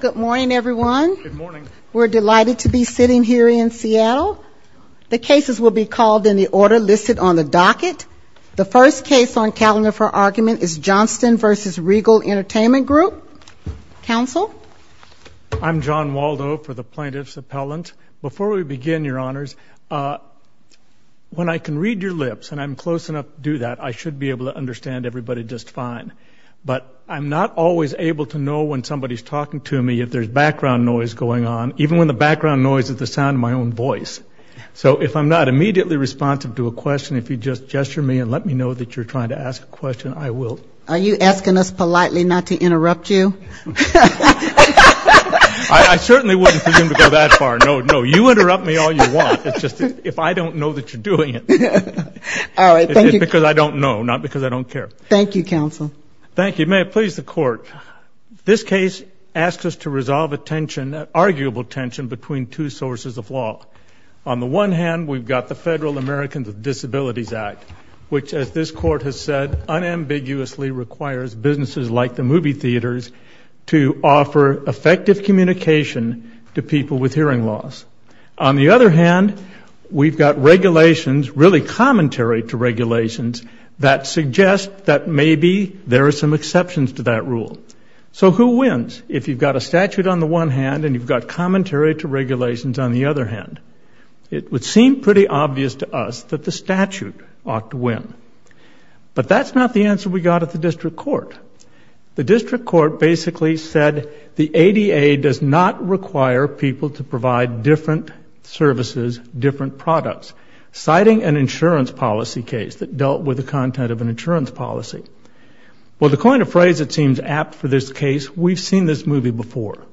Good morning everyone. We're delighted to be sitting here in Seattle. The cases will be called in the order listed on the docket. The first case on calendar for argument is Johnston v. Regal Entertainment Group. Counsel? I'm John Waldo for the Plaintiff's Appellant. Before we begin, your honors, when I can read your lips, and I'm close enough to do that, I should be able to understand everybody just fine. But I'm not always able to know when somebody's talking to me, if there's background noise going on, even when the background noise is the sound of my own voice. So if I'm not immediately responsive to a question, if you just gesture me and let me know that you're trying to ask a question, I will. Are you asking us politely not to interrupt you? I certainly wouldn't presume to go that far. No, you interrupt me all you want. It's just if I don't know that you're doing it. It's because I don't know, not because I don't care. Thank you, counsel. Thank you. May it please the court, this case asks us to resolve a tension, an arguable tension between two sources of law. On the one hand, we've got the Federal Americans with Disabilities Act, which as this court has said, unambiguously requires businesses like the movie theaters to offer effective communication to people with hearing loss. On the other hand, we've got regulations, really commentary to regulations, that suggest that maybe there are some exceptions to that rule. So who wins if you've got a statute on the one hand and you've got commentary to regulations on the other hand? It would seem pretty obvious to us that the statute ought to win. But that's not the answer we got at the district court. The district court basically said the ADA does not require people to provide different services, different products, citing an insurance policy case that dealt with the content of an insurance policy. Well, to coin a phrase that seems apt for this case, we've seen this movie before.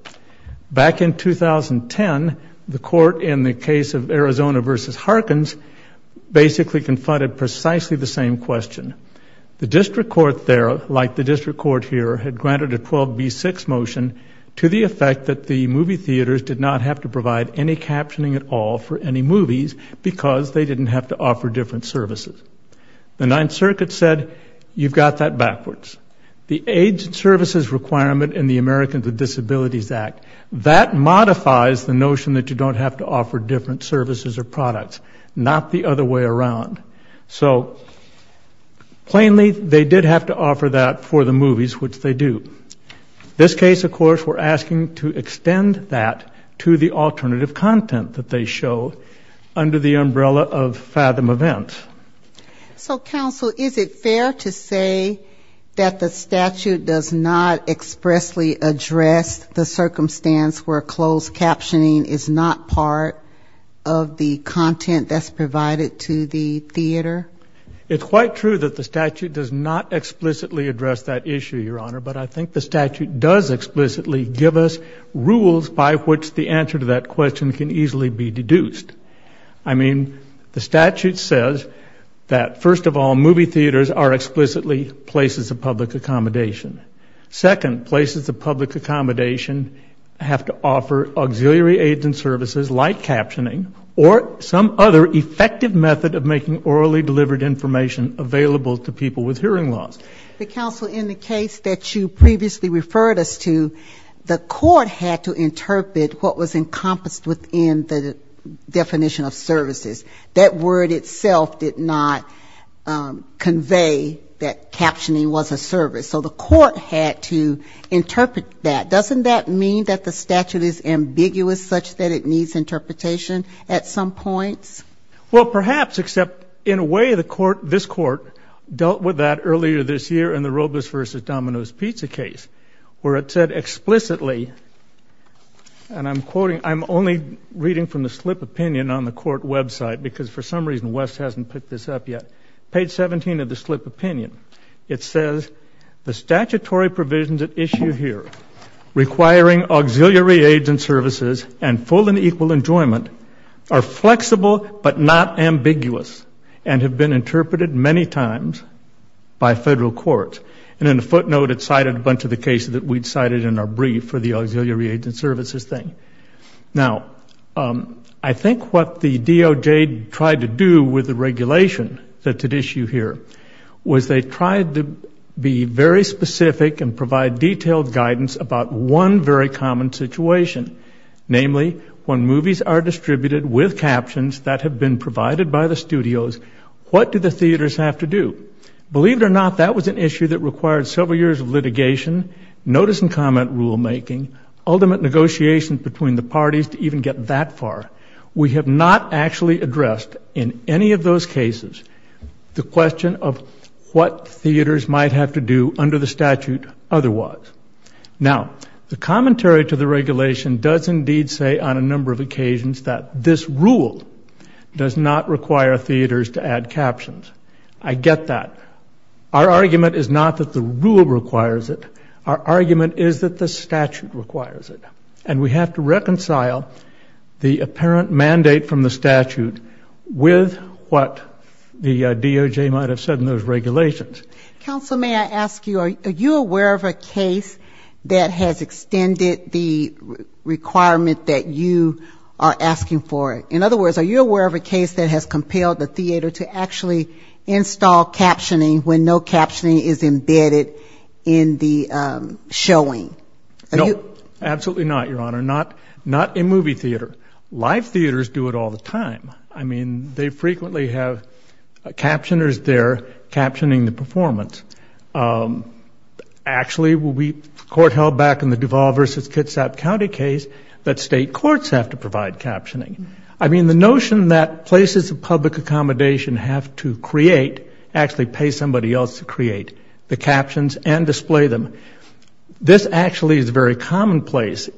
Back in 2010, the court in the case of Arizona v. Harkins basically confronted precisely the same question. The district court there, like the district court here, had granted a 12B6 motion to the effect that the movie theaters did not have to provide any captioning at all for any movies because they didn't have to offer different services. The Ninth Circuit said, you've got that backwards. The AIDS Services Requirement in the Americans with Disabilities Act, that modifies the notion that you don't have to offer different services or products, not the other way around. So plainly, they did have to offer that for the movies, which they do. This case, of course, we're asking to extend that to the alternative content that they show under the umbrella of fathom event. So counsel, is it fair to say that the statute does not expressly address the circumstance where closed captioning is not part of the content that's provided to the theater? It's quite true that the statute does not explicitly address that issue, Your Honor. But I think the statute does explicitly give us rules by which the answer to that question can easily be deduced. I mean, the statute says that, first of all, movie theaters are explicitly places of public accommodation. Second, places of public accommodation have to offer auxiliary aids and services like captioning or some other effective method of making orally delivered information available to people with hearing loss. But counsel, in the case that you previously referred us to, the court had to interpret what was encompassed within the definition of services. That word itself did not convey that captioning was a service. So the court had to interpret that. Doesn't that mean that the statute is ambiguous such that it needs interpretation at some points? Well, perhaps, except in a way the court, this court, dealt with that earlier this year in the Robles v. Domino's pizza case, where it said explicitly, and I'm quoting, I'm only reading from the slip opinion on the court website because for some reason Wes hasn't picked this up yet. Page 17 of the slip opinion. It says, the statutory provisions at issue here requiring auxiliary aids and services and full and equal enjoyment are in the court. And in the footnote it cited a bunch of the cases that we cited in our brief for the auxiliary aids and services thing. Now, I think what the DOJ tried to do with the regulation that's at issue here was they tried to be very specific and provide detailed guidance about one very common situation. Namely, when movies are distributed with captions that have been provided by the studios, what do the theaters have to do? Believe it or not, that was an issue that required several years of litigation, notice and comment rulemaking, ultimate negotiations between the parties to even get that far. We have not actually addressed in any of those cases the question of what theaters might have to do under the statute otherwise. Now, the commentary to the regulation does indeed say on a number of occasions that this has to do with the regulations. I get that. Our argument is not that the rule requires it. Our argument is that the statute requires it. And we have to reconcile the apparent mandate from the statute with what the DOJ might have said in those regulations. Counsel, may I ask you, are you aware of a case that has extended the requirement that you are asking for? In other words, are you aware of a case that has compelled the theater to actually install captioning when no captioning is embedded in the showing? No, absolutely not, Your Honor. Not in movie theater. Live theaters do it all the time. I mean, they frequently have captioners there captioning the performance. Actually, the court held back in the Duval v. Kitsap County case that state courts have to provide captioning. I mean, the notion that places of public accommodation have to create, actually pay somebody else to create the captions and display them, this actually is very commonplace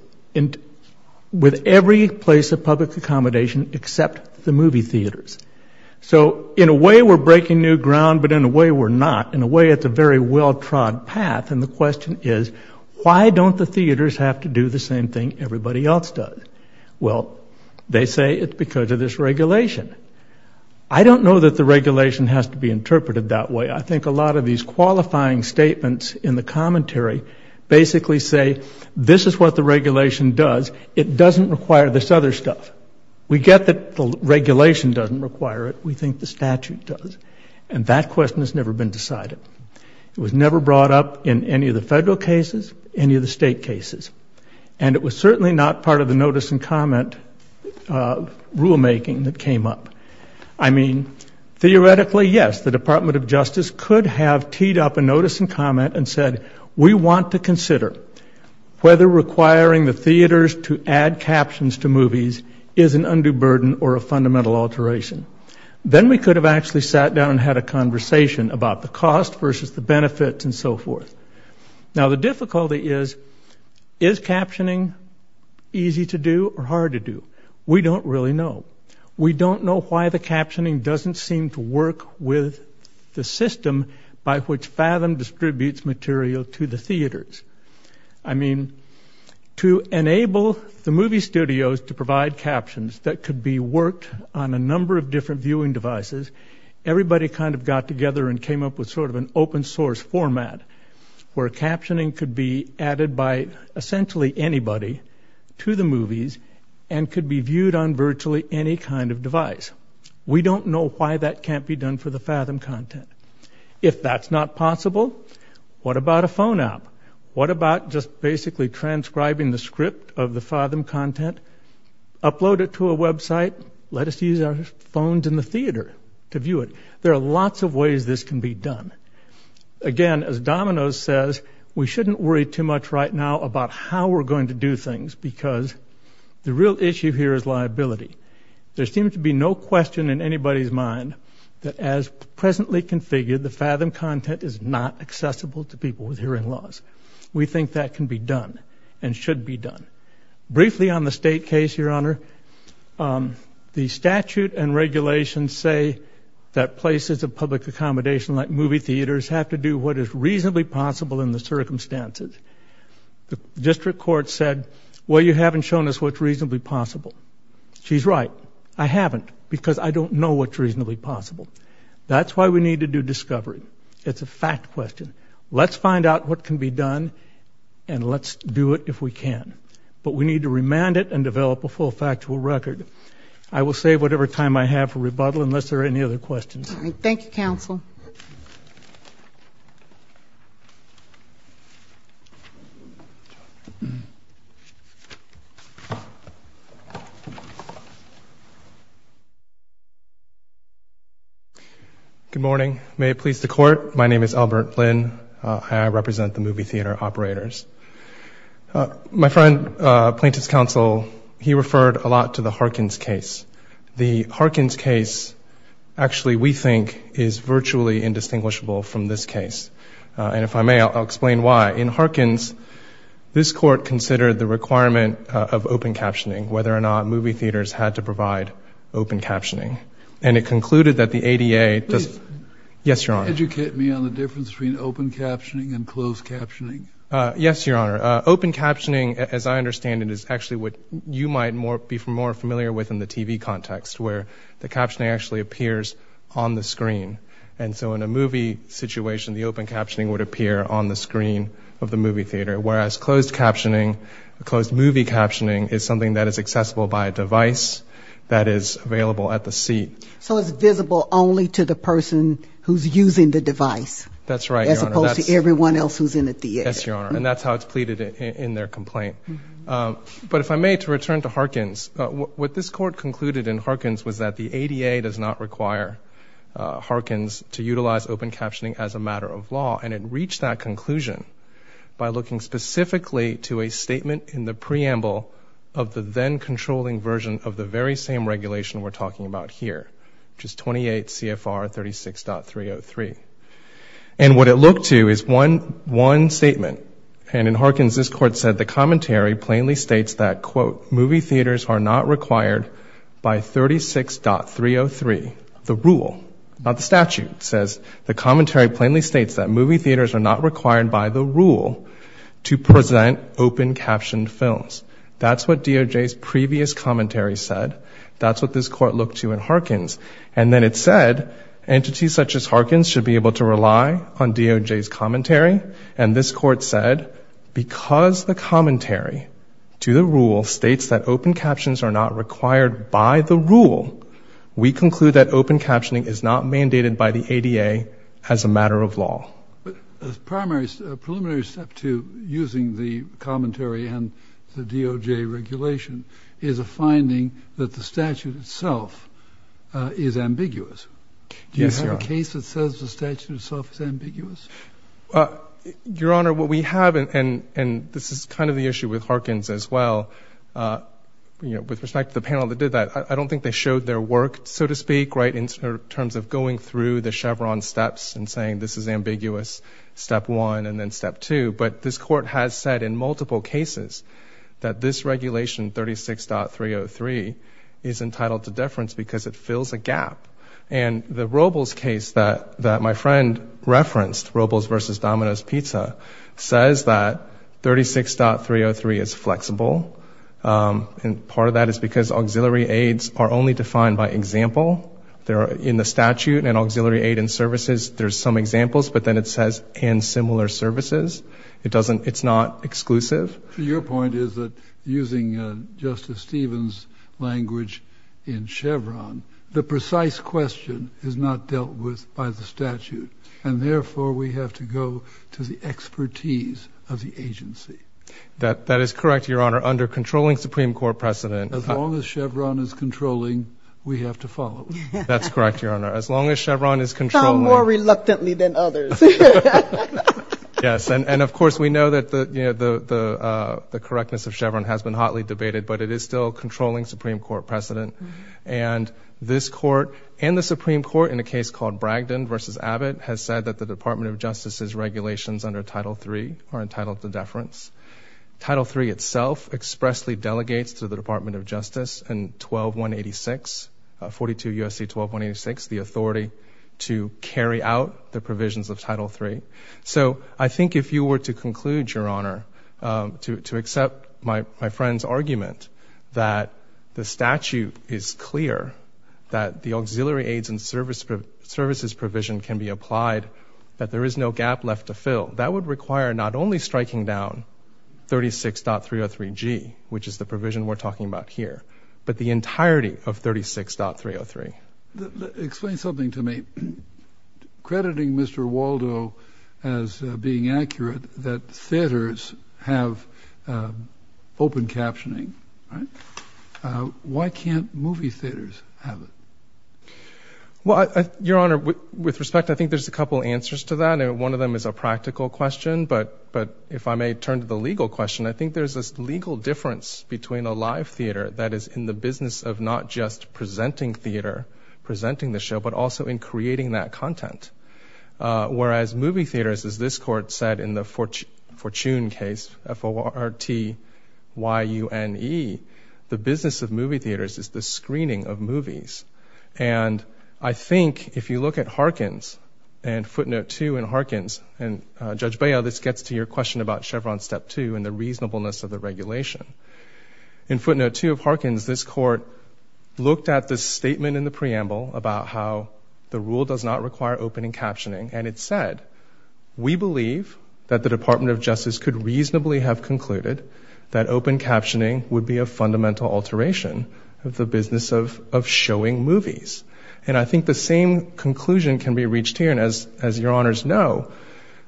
with every place of public accommodation except the movie theaters. So in a way, we're breaking new ground, but in a way, we're not. In a way, it's a very well-trod path. And the question is, why don't the theaters have to do the same thing everybody else does? Well, they say it's because of this regulation. I don't know that the regulation has to be interpreted that way. I think a lot of these qualifying statements in the commentary basically say, this is what the regulation does. It doesn't require this other stuff. We get that the regulation doesn't require it. We think the statute does. And that question has never been decided. It was in state cases. And it was certainly not part of the notice and comment rulemaking that came up. I mean, theoretically, yes, the Department of Justice could have teed up a notice and comment and said, we want to consider whether requiring the theaters to add captions to movies is an undue burden or a fundamental alteration. Then we could have actually sat down and had a conversation about the cost versus the benefits and so forth. Now, the difficulty is, is captioning easy to do or hard to do? We don't really know. We don't know why the captioning doesn't seem to work with the system by which Fathom distributes material to the theaters. I mean, to enable the movie studios to provide captions that could be worked on a number of different viewing devices, everybody kind of got together and came up with sort of an open source format where captioning could be added by essentially anybody to the movies and could be viewed on virtually any kind of device. We don't know why that can't be done for the Fathom content. If that's not possible, what about a phone app? What about just basically transcribing the script of the Fathom content, upload it to a website, let us use our phones in the theater to view it? There are lots of ways this can be done. Again, as Domino's says, we shouldn't worry too much right now about how we're going to do things because the real issue here is liability. There seems to be no question in anybody's mind that as presently configured, the Fathom content is not accessible to people with hearing loss. We think that can be done and should be done. Briefly on the state case, Your Honor, the statute and regulations say that places of public accommodation like movie theaters have to do what is reasonably possible in the circumstances. The district court said, well, you haven't shown us what's reasonably possible. She's right. I haven't because I don't know what's reasonably possible. That's why we need to do discovery. It's a fact question. Let's find out what can be done and let's do it if we can. But we need to remand it and develop a full factual record. I will save whatever time I have for rebuttal unless there are any other questions. All right. Thank you, counsel. Good morning. May it please the court. My name is Albert Flynn. I represent the movie theater operators. My friend, plaintiff's counsel, he referred a lot to the Harkins case. The Harkins case actually we think is virtually indistinguishable from this case. And if I may, I'll explain why. In Harkins, this court considered the requirement of open captioning, whether or not movie theaters had to provide open captioning. And it concluded that the ADA does. Yes, Your Honor. Educate me on the difference between open captioning and closed captioning. Yes, Your Honor. Open captioning, as I understand it, is actually what you might be more familiar with in the TV context, where the captioning actually appears on the screen. And so in a movie situation, the open captioning would appear on the screen of the movie theater, whereas closed captioning, closed movie captioning, is something that is accessible by a device that is available at the seat. So it's visible only to the person who's using the device. That's right, Your Honor. As opposed to everyone else who's in the theater. Yes, Your Honor. And that's how it's pleaded in their complaint. But if I may, to return to Harkins, what this court concluded in Harkins was that the ADA does not require Harkins to utilize open captioning as a matter of law. And it reached that conclusion by looking specifically to a statement in the preamble of the then-controlling version of the very same regulation we're talking about here, which is 28 CFR 36.303. And what it looked to is one statement. And in Harkins, this court said, the commentary plainly states that, quote, movie theaters are not required by 36.303, the rule, not the statute. It says, the commentary plainly states that movie theaters are not required by the rule to present open captioned films. That's what DOJ's previous commentary said. That's what this court looked to in Harkins. And then it said, entities such as Harkins should be able to rely on DOJ's commentary. And this court said, because the commentary to the rule states that open captions are not required by the rule, we conclude that open captioning is not mandated by the ADA as a matter of law. But a preliminary step to using the commentary and the DOJ regulation is a finding that the statute itself is ambiguous. Do you have a case that says the statute itself is ambiguous? Your Honor, what we have, and this is kind of the issue with Harkins as well, with respect to the panel that did that, I don't think they showed their work, so to speak, in terms of going through the Chevron steps and saying this is ambiguous, step one, and then step two. But this court has said in multiple cases that this regulation, 36.303, is entitled to deference because it fills a gap. And the Robles case that my friend referenced, Robles versus Domino's Pizza, says that 36.303 is flexible. And part of that is because auxiliary aids are only defined by example. In the statute, an auxiliary aid and services, there's some examples, but then it says and similar services. It's not exclusive. Your point is that using Justice Stevens' language in Chevron, the precise question is not dealt with by the statute. And therefore, we have to go to the expertise of the agency. That is correct, Your Honor. Under controlling Supreme Court precedent— As long as Chevron is controlling, we have to follow. That's correct, Your Honor. As long as Chevron is controlling— Some more reluctantly than others. Yes. And of course, we know that the correctness of Chevron has been hotly debated, but it is still controlling Supreme Court precedent. And this court and the Supreme Court in a case called Bragdon versus Abbott has said that the Department of Justice's regulations under Title III are entitled to deference. Title III itself expressly delegates to the 42 U.S.C. 12186, the authority to carry out the provisions of Title III. So I think if you were to conclude, Your Honor, to accept my friend's argument that the statute is clear, that the auxiliary aids and services provision can be applied, that there is no gap left to fill. That would require not only striking down 36.303G, which is the entirety of 36.303. Explain something to me. Crediting Mr. Waldo as being accurate that theaters have open captioning, why can't movie theaters have it? Well, Your Honor, with respect, I think there's a couple answers to that, and one of them is a practical question. But if I may turn to the legal question, I think there's this legal difference between a live theater that is in the business of not just presenting theater, presenting the show, but also in creating that content. Whereas movie theaters, as this Court said in the Fortune case, F-O-R-T-Y-U-N-E, the business of movie theaters is the screening of movies. And I think if you look at Harkins and footnote two in Harkins, and Judge Bail, this gets to your question about Chevron step two and the reasonableness of the regulation. In footnote two of Harkins, this Court looked at the statement in the preamble about how the rule does not require opening captioning, and it said, we believe that the Department of Justice could reasonably have concluded that open captioning would be a fundamental alteration of the business of showing movies. And I think the same conclusion can be reached here. And as your honors know,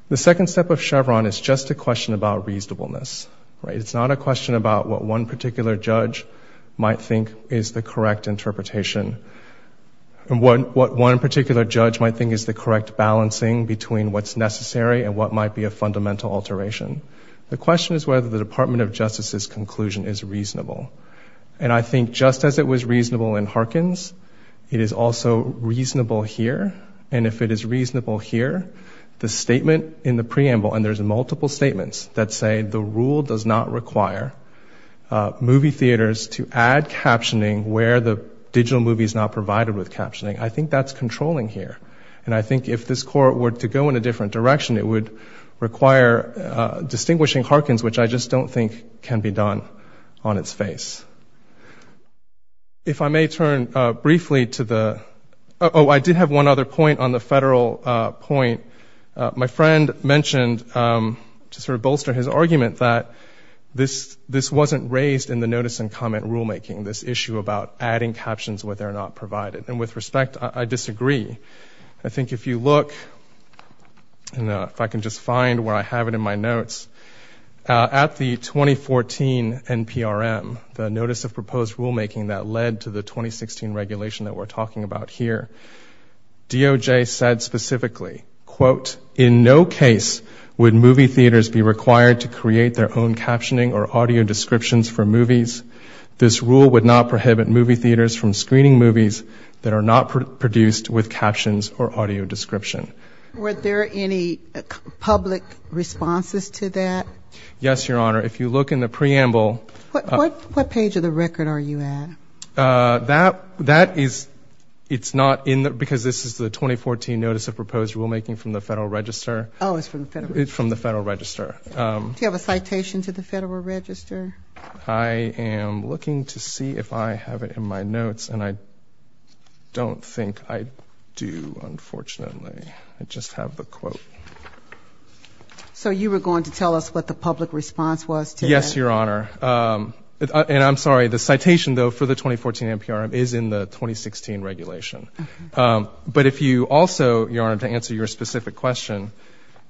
the second step of Chevron is just a question about reasonableness. It's not a question about what one particular judge might think is the correct interpretation. What one particular judge might think is the correct balancing between what's necessary and what might be a fundamental alteration. The question is whether the Department of Justice's conclusion is reasonable. And I think just as it was reasonable in Harkins, it is also reasonable here. And if it is reasonable here, the statement in the preamble, and there's multiple statements that say the rule does not require movie theaters to add captioning where the digital movie is not provided with captioning, I think that's controlling here. And I think if this Court were to go in a different direction, it would require distinguishing Harkins, which I just don't think can be done on its face. If I may turn briefly to the, oh, I did have one other point on the federal point. My friend mentioned, to sort of bolster his argument, that this wasn't raised in the notice and comment rulemaking, this issue about adding captions where they're not provided. And with respect, I disagree. I think if you look, if I can just find where I have it in my notes, at the 2014 NPRM, the notice of proposed rulemaking that led to the 2016 regulation that we're talking about here, DOJ said specifically, quote, in no case would movie theaters be required to create their own captioning or audio descriptions for movies. This rule would not prohibit movie theaters from screening movies that are not produced with captions or audio description. Were there any public responses to that? Yes, Your Honor. If you look in the preamble. What page of the record are you at? That is, it's not in the, because this is the 2014 notice of proposed rulemaking from the Federal Register. Oh, it's from the Federal Register. From the Federal Register. Do you have a citation to the Federal Register? I am looking to see if I have it in my notes, and I don't think I do, unfortunately. I just have the quote. So you were going to tell us what the public response was to that? Yes, Your Honor. And I'm sorry, the citation, though, for the 2014 NPRM is in the 2016 regulation. But if you also, Your Honor, to answer your specific question,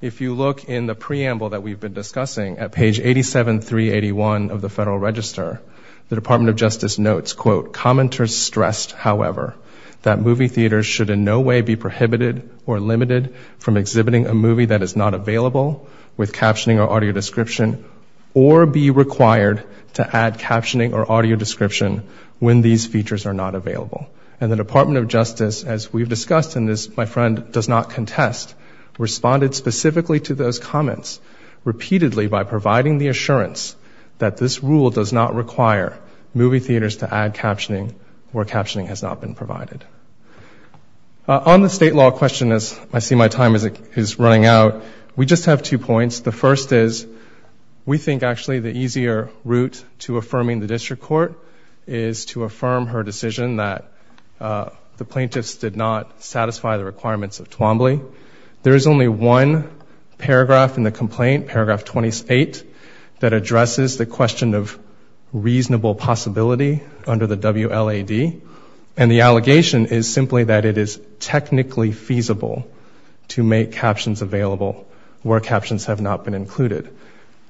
if you look in the preamble that we've been discussing at page 87381 of the Federal Register, the Department of Justice notes, quote, commenters stressed, however, that movie theaters should in no way be prohibited or limited from exhibiting a movie that is not available with captioning or audio description or be required to add captioning or audio description when these features are not available. And the Department of Justice, as we've discussed in this, my friend does not contest, responded specifically to those comments repeatedly by providing the assurance that this rule does not require movie theaters to add captioning where captioning has not been provided. On the state law question, as I see my time is running out, we just have two points. The first is we think, actually, the easier route to affirming the district court is to affirm her decision that the plaintiffs did not satisfy the requirements of Twombly. There is only one paragraph in the complaint, paragraph 28, that addresses the question of reasonable possibility under the WLAD, and the allegation is simply that it is technically feasible to make captions available where captions have not been included.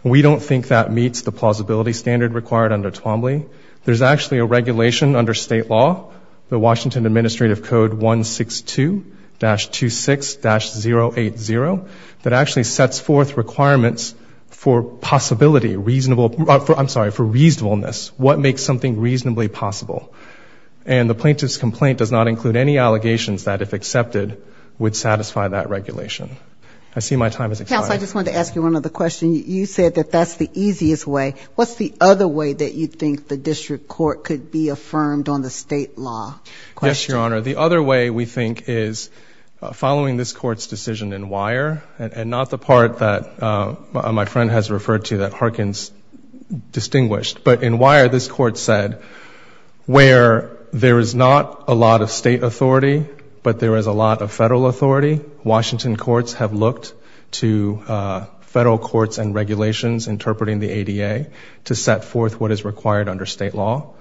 We don't think that meets the plausibility standard required under Twombly. There's actually a regulation under state law, the Washington Administrative Code 162-26-080, that actually sets forth requirements for possibility, reasonable, I'm sorry, for reasonableness, what makes something reasonably possible. And the plaintiff's complaint does not include any allegations that if accepted would satisfy that regulation. I see my time is expired. Counsel, I just wanted to ask you one other question. You said that that's the easiest way. What's the other way that you think the district court could be affirmed on the state law? Yes, Your Honor. The other way we think is following this Court's decision in Weyer, and not the part that my friend has referred to that Harkins distinguished, but in Weyer this Court said where there is not a lot of state authority, but there is a lot of federal authority, Washington courts have looked to federal courts and regulations interpreting the ADA to set forth what is required under state law.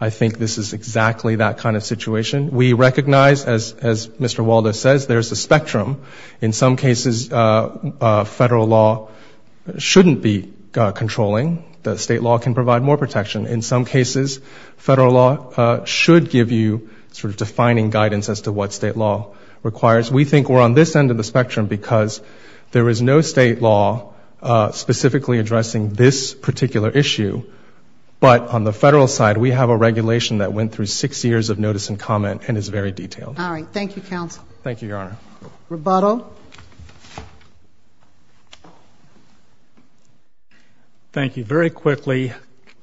I think this is exactly that kind of situation. We recognize, as Mr. Waldo says, there's a spectrum. In some cases, federal law shouldn't be controlling. The state law can provide more protection. In some cases, federal law should give you sort of defining guidance as to what state law requires. We think we're on this end of the spectrum because there is no state law specifically addressing this particular issue, but on the federal side, we have a regulation that went through six years of notice and comment and is very detailed. All right. Thank you, counsel. Thank you, Your Honor. Rebuttal. Thank you. Very quickly,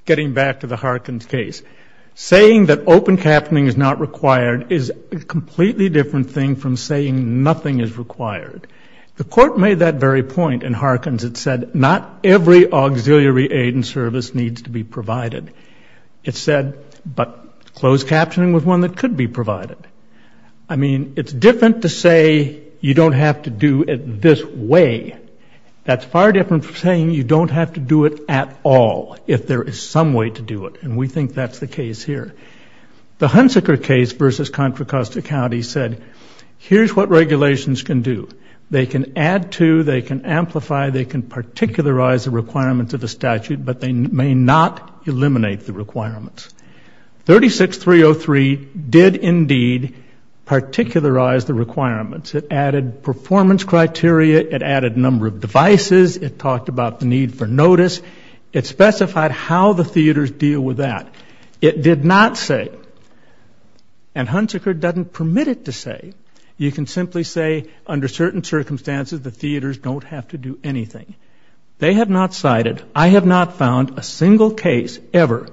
getting back to the Harkins case. Saying that open captaining is not required is a completely different thing from saying nothing is required. The free auxiliary aid and service needs to be provided. It said, but closed captaining was one that could be provided. I mean, it's different to say you don't have to do it this way. That's far different from saying you don't have to do it at all if there is some way to do it, and we think that's the case here. The Hunsaker case versus Contra Costa County said, here's what regulations can do. They can add to, they can amplify, they can particularize the requirements of a statute, but they may not eliminate the requirements. 36303 did indeed particularize the requirements. It added performance criteria. It added number of devices. It talked about the need for notice. It specified how the theaters deal with that. It did not say, and Hunsaker doesn't permit it to say, you can simply say, under certain circumstances, the theaters don't have to do anything. They have not cited, I have not found a single case ever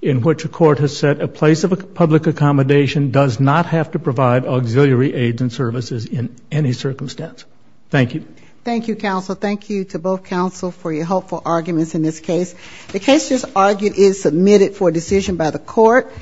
in which a court has said a place of public accommodation does not have to provide auxiliary aids and services in any circumstance. Thank you. Thank you, counsel. Thank you to both counsel for your helpful arguments in this case. The case just argued is submitted for decision by the court.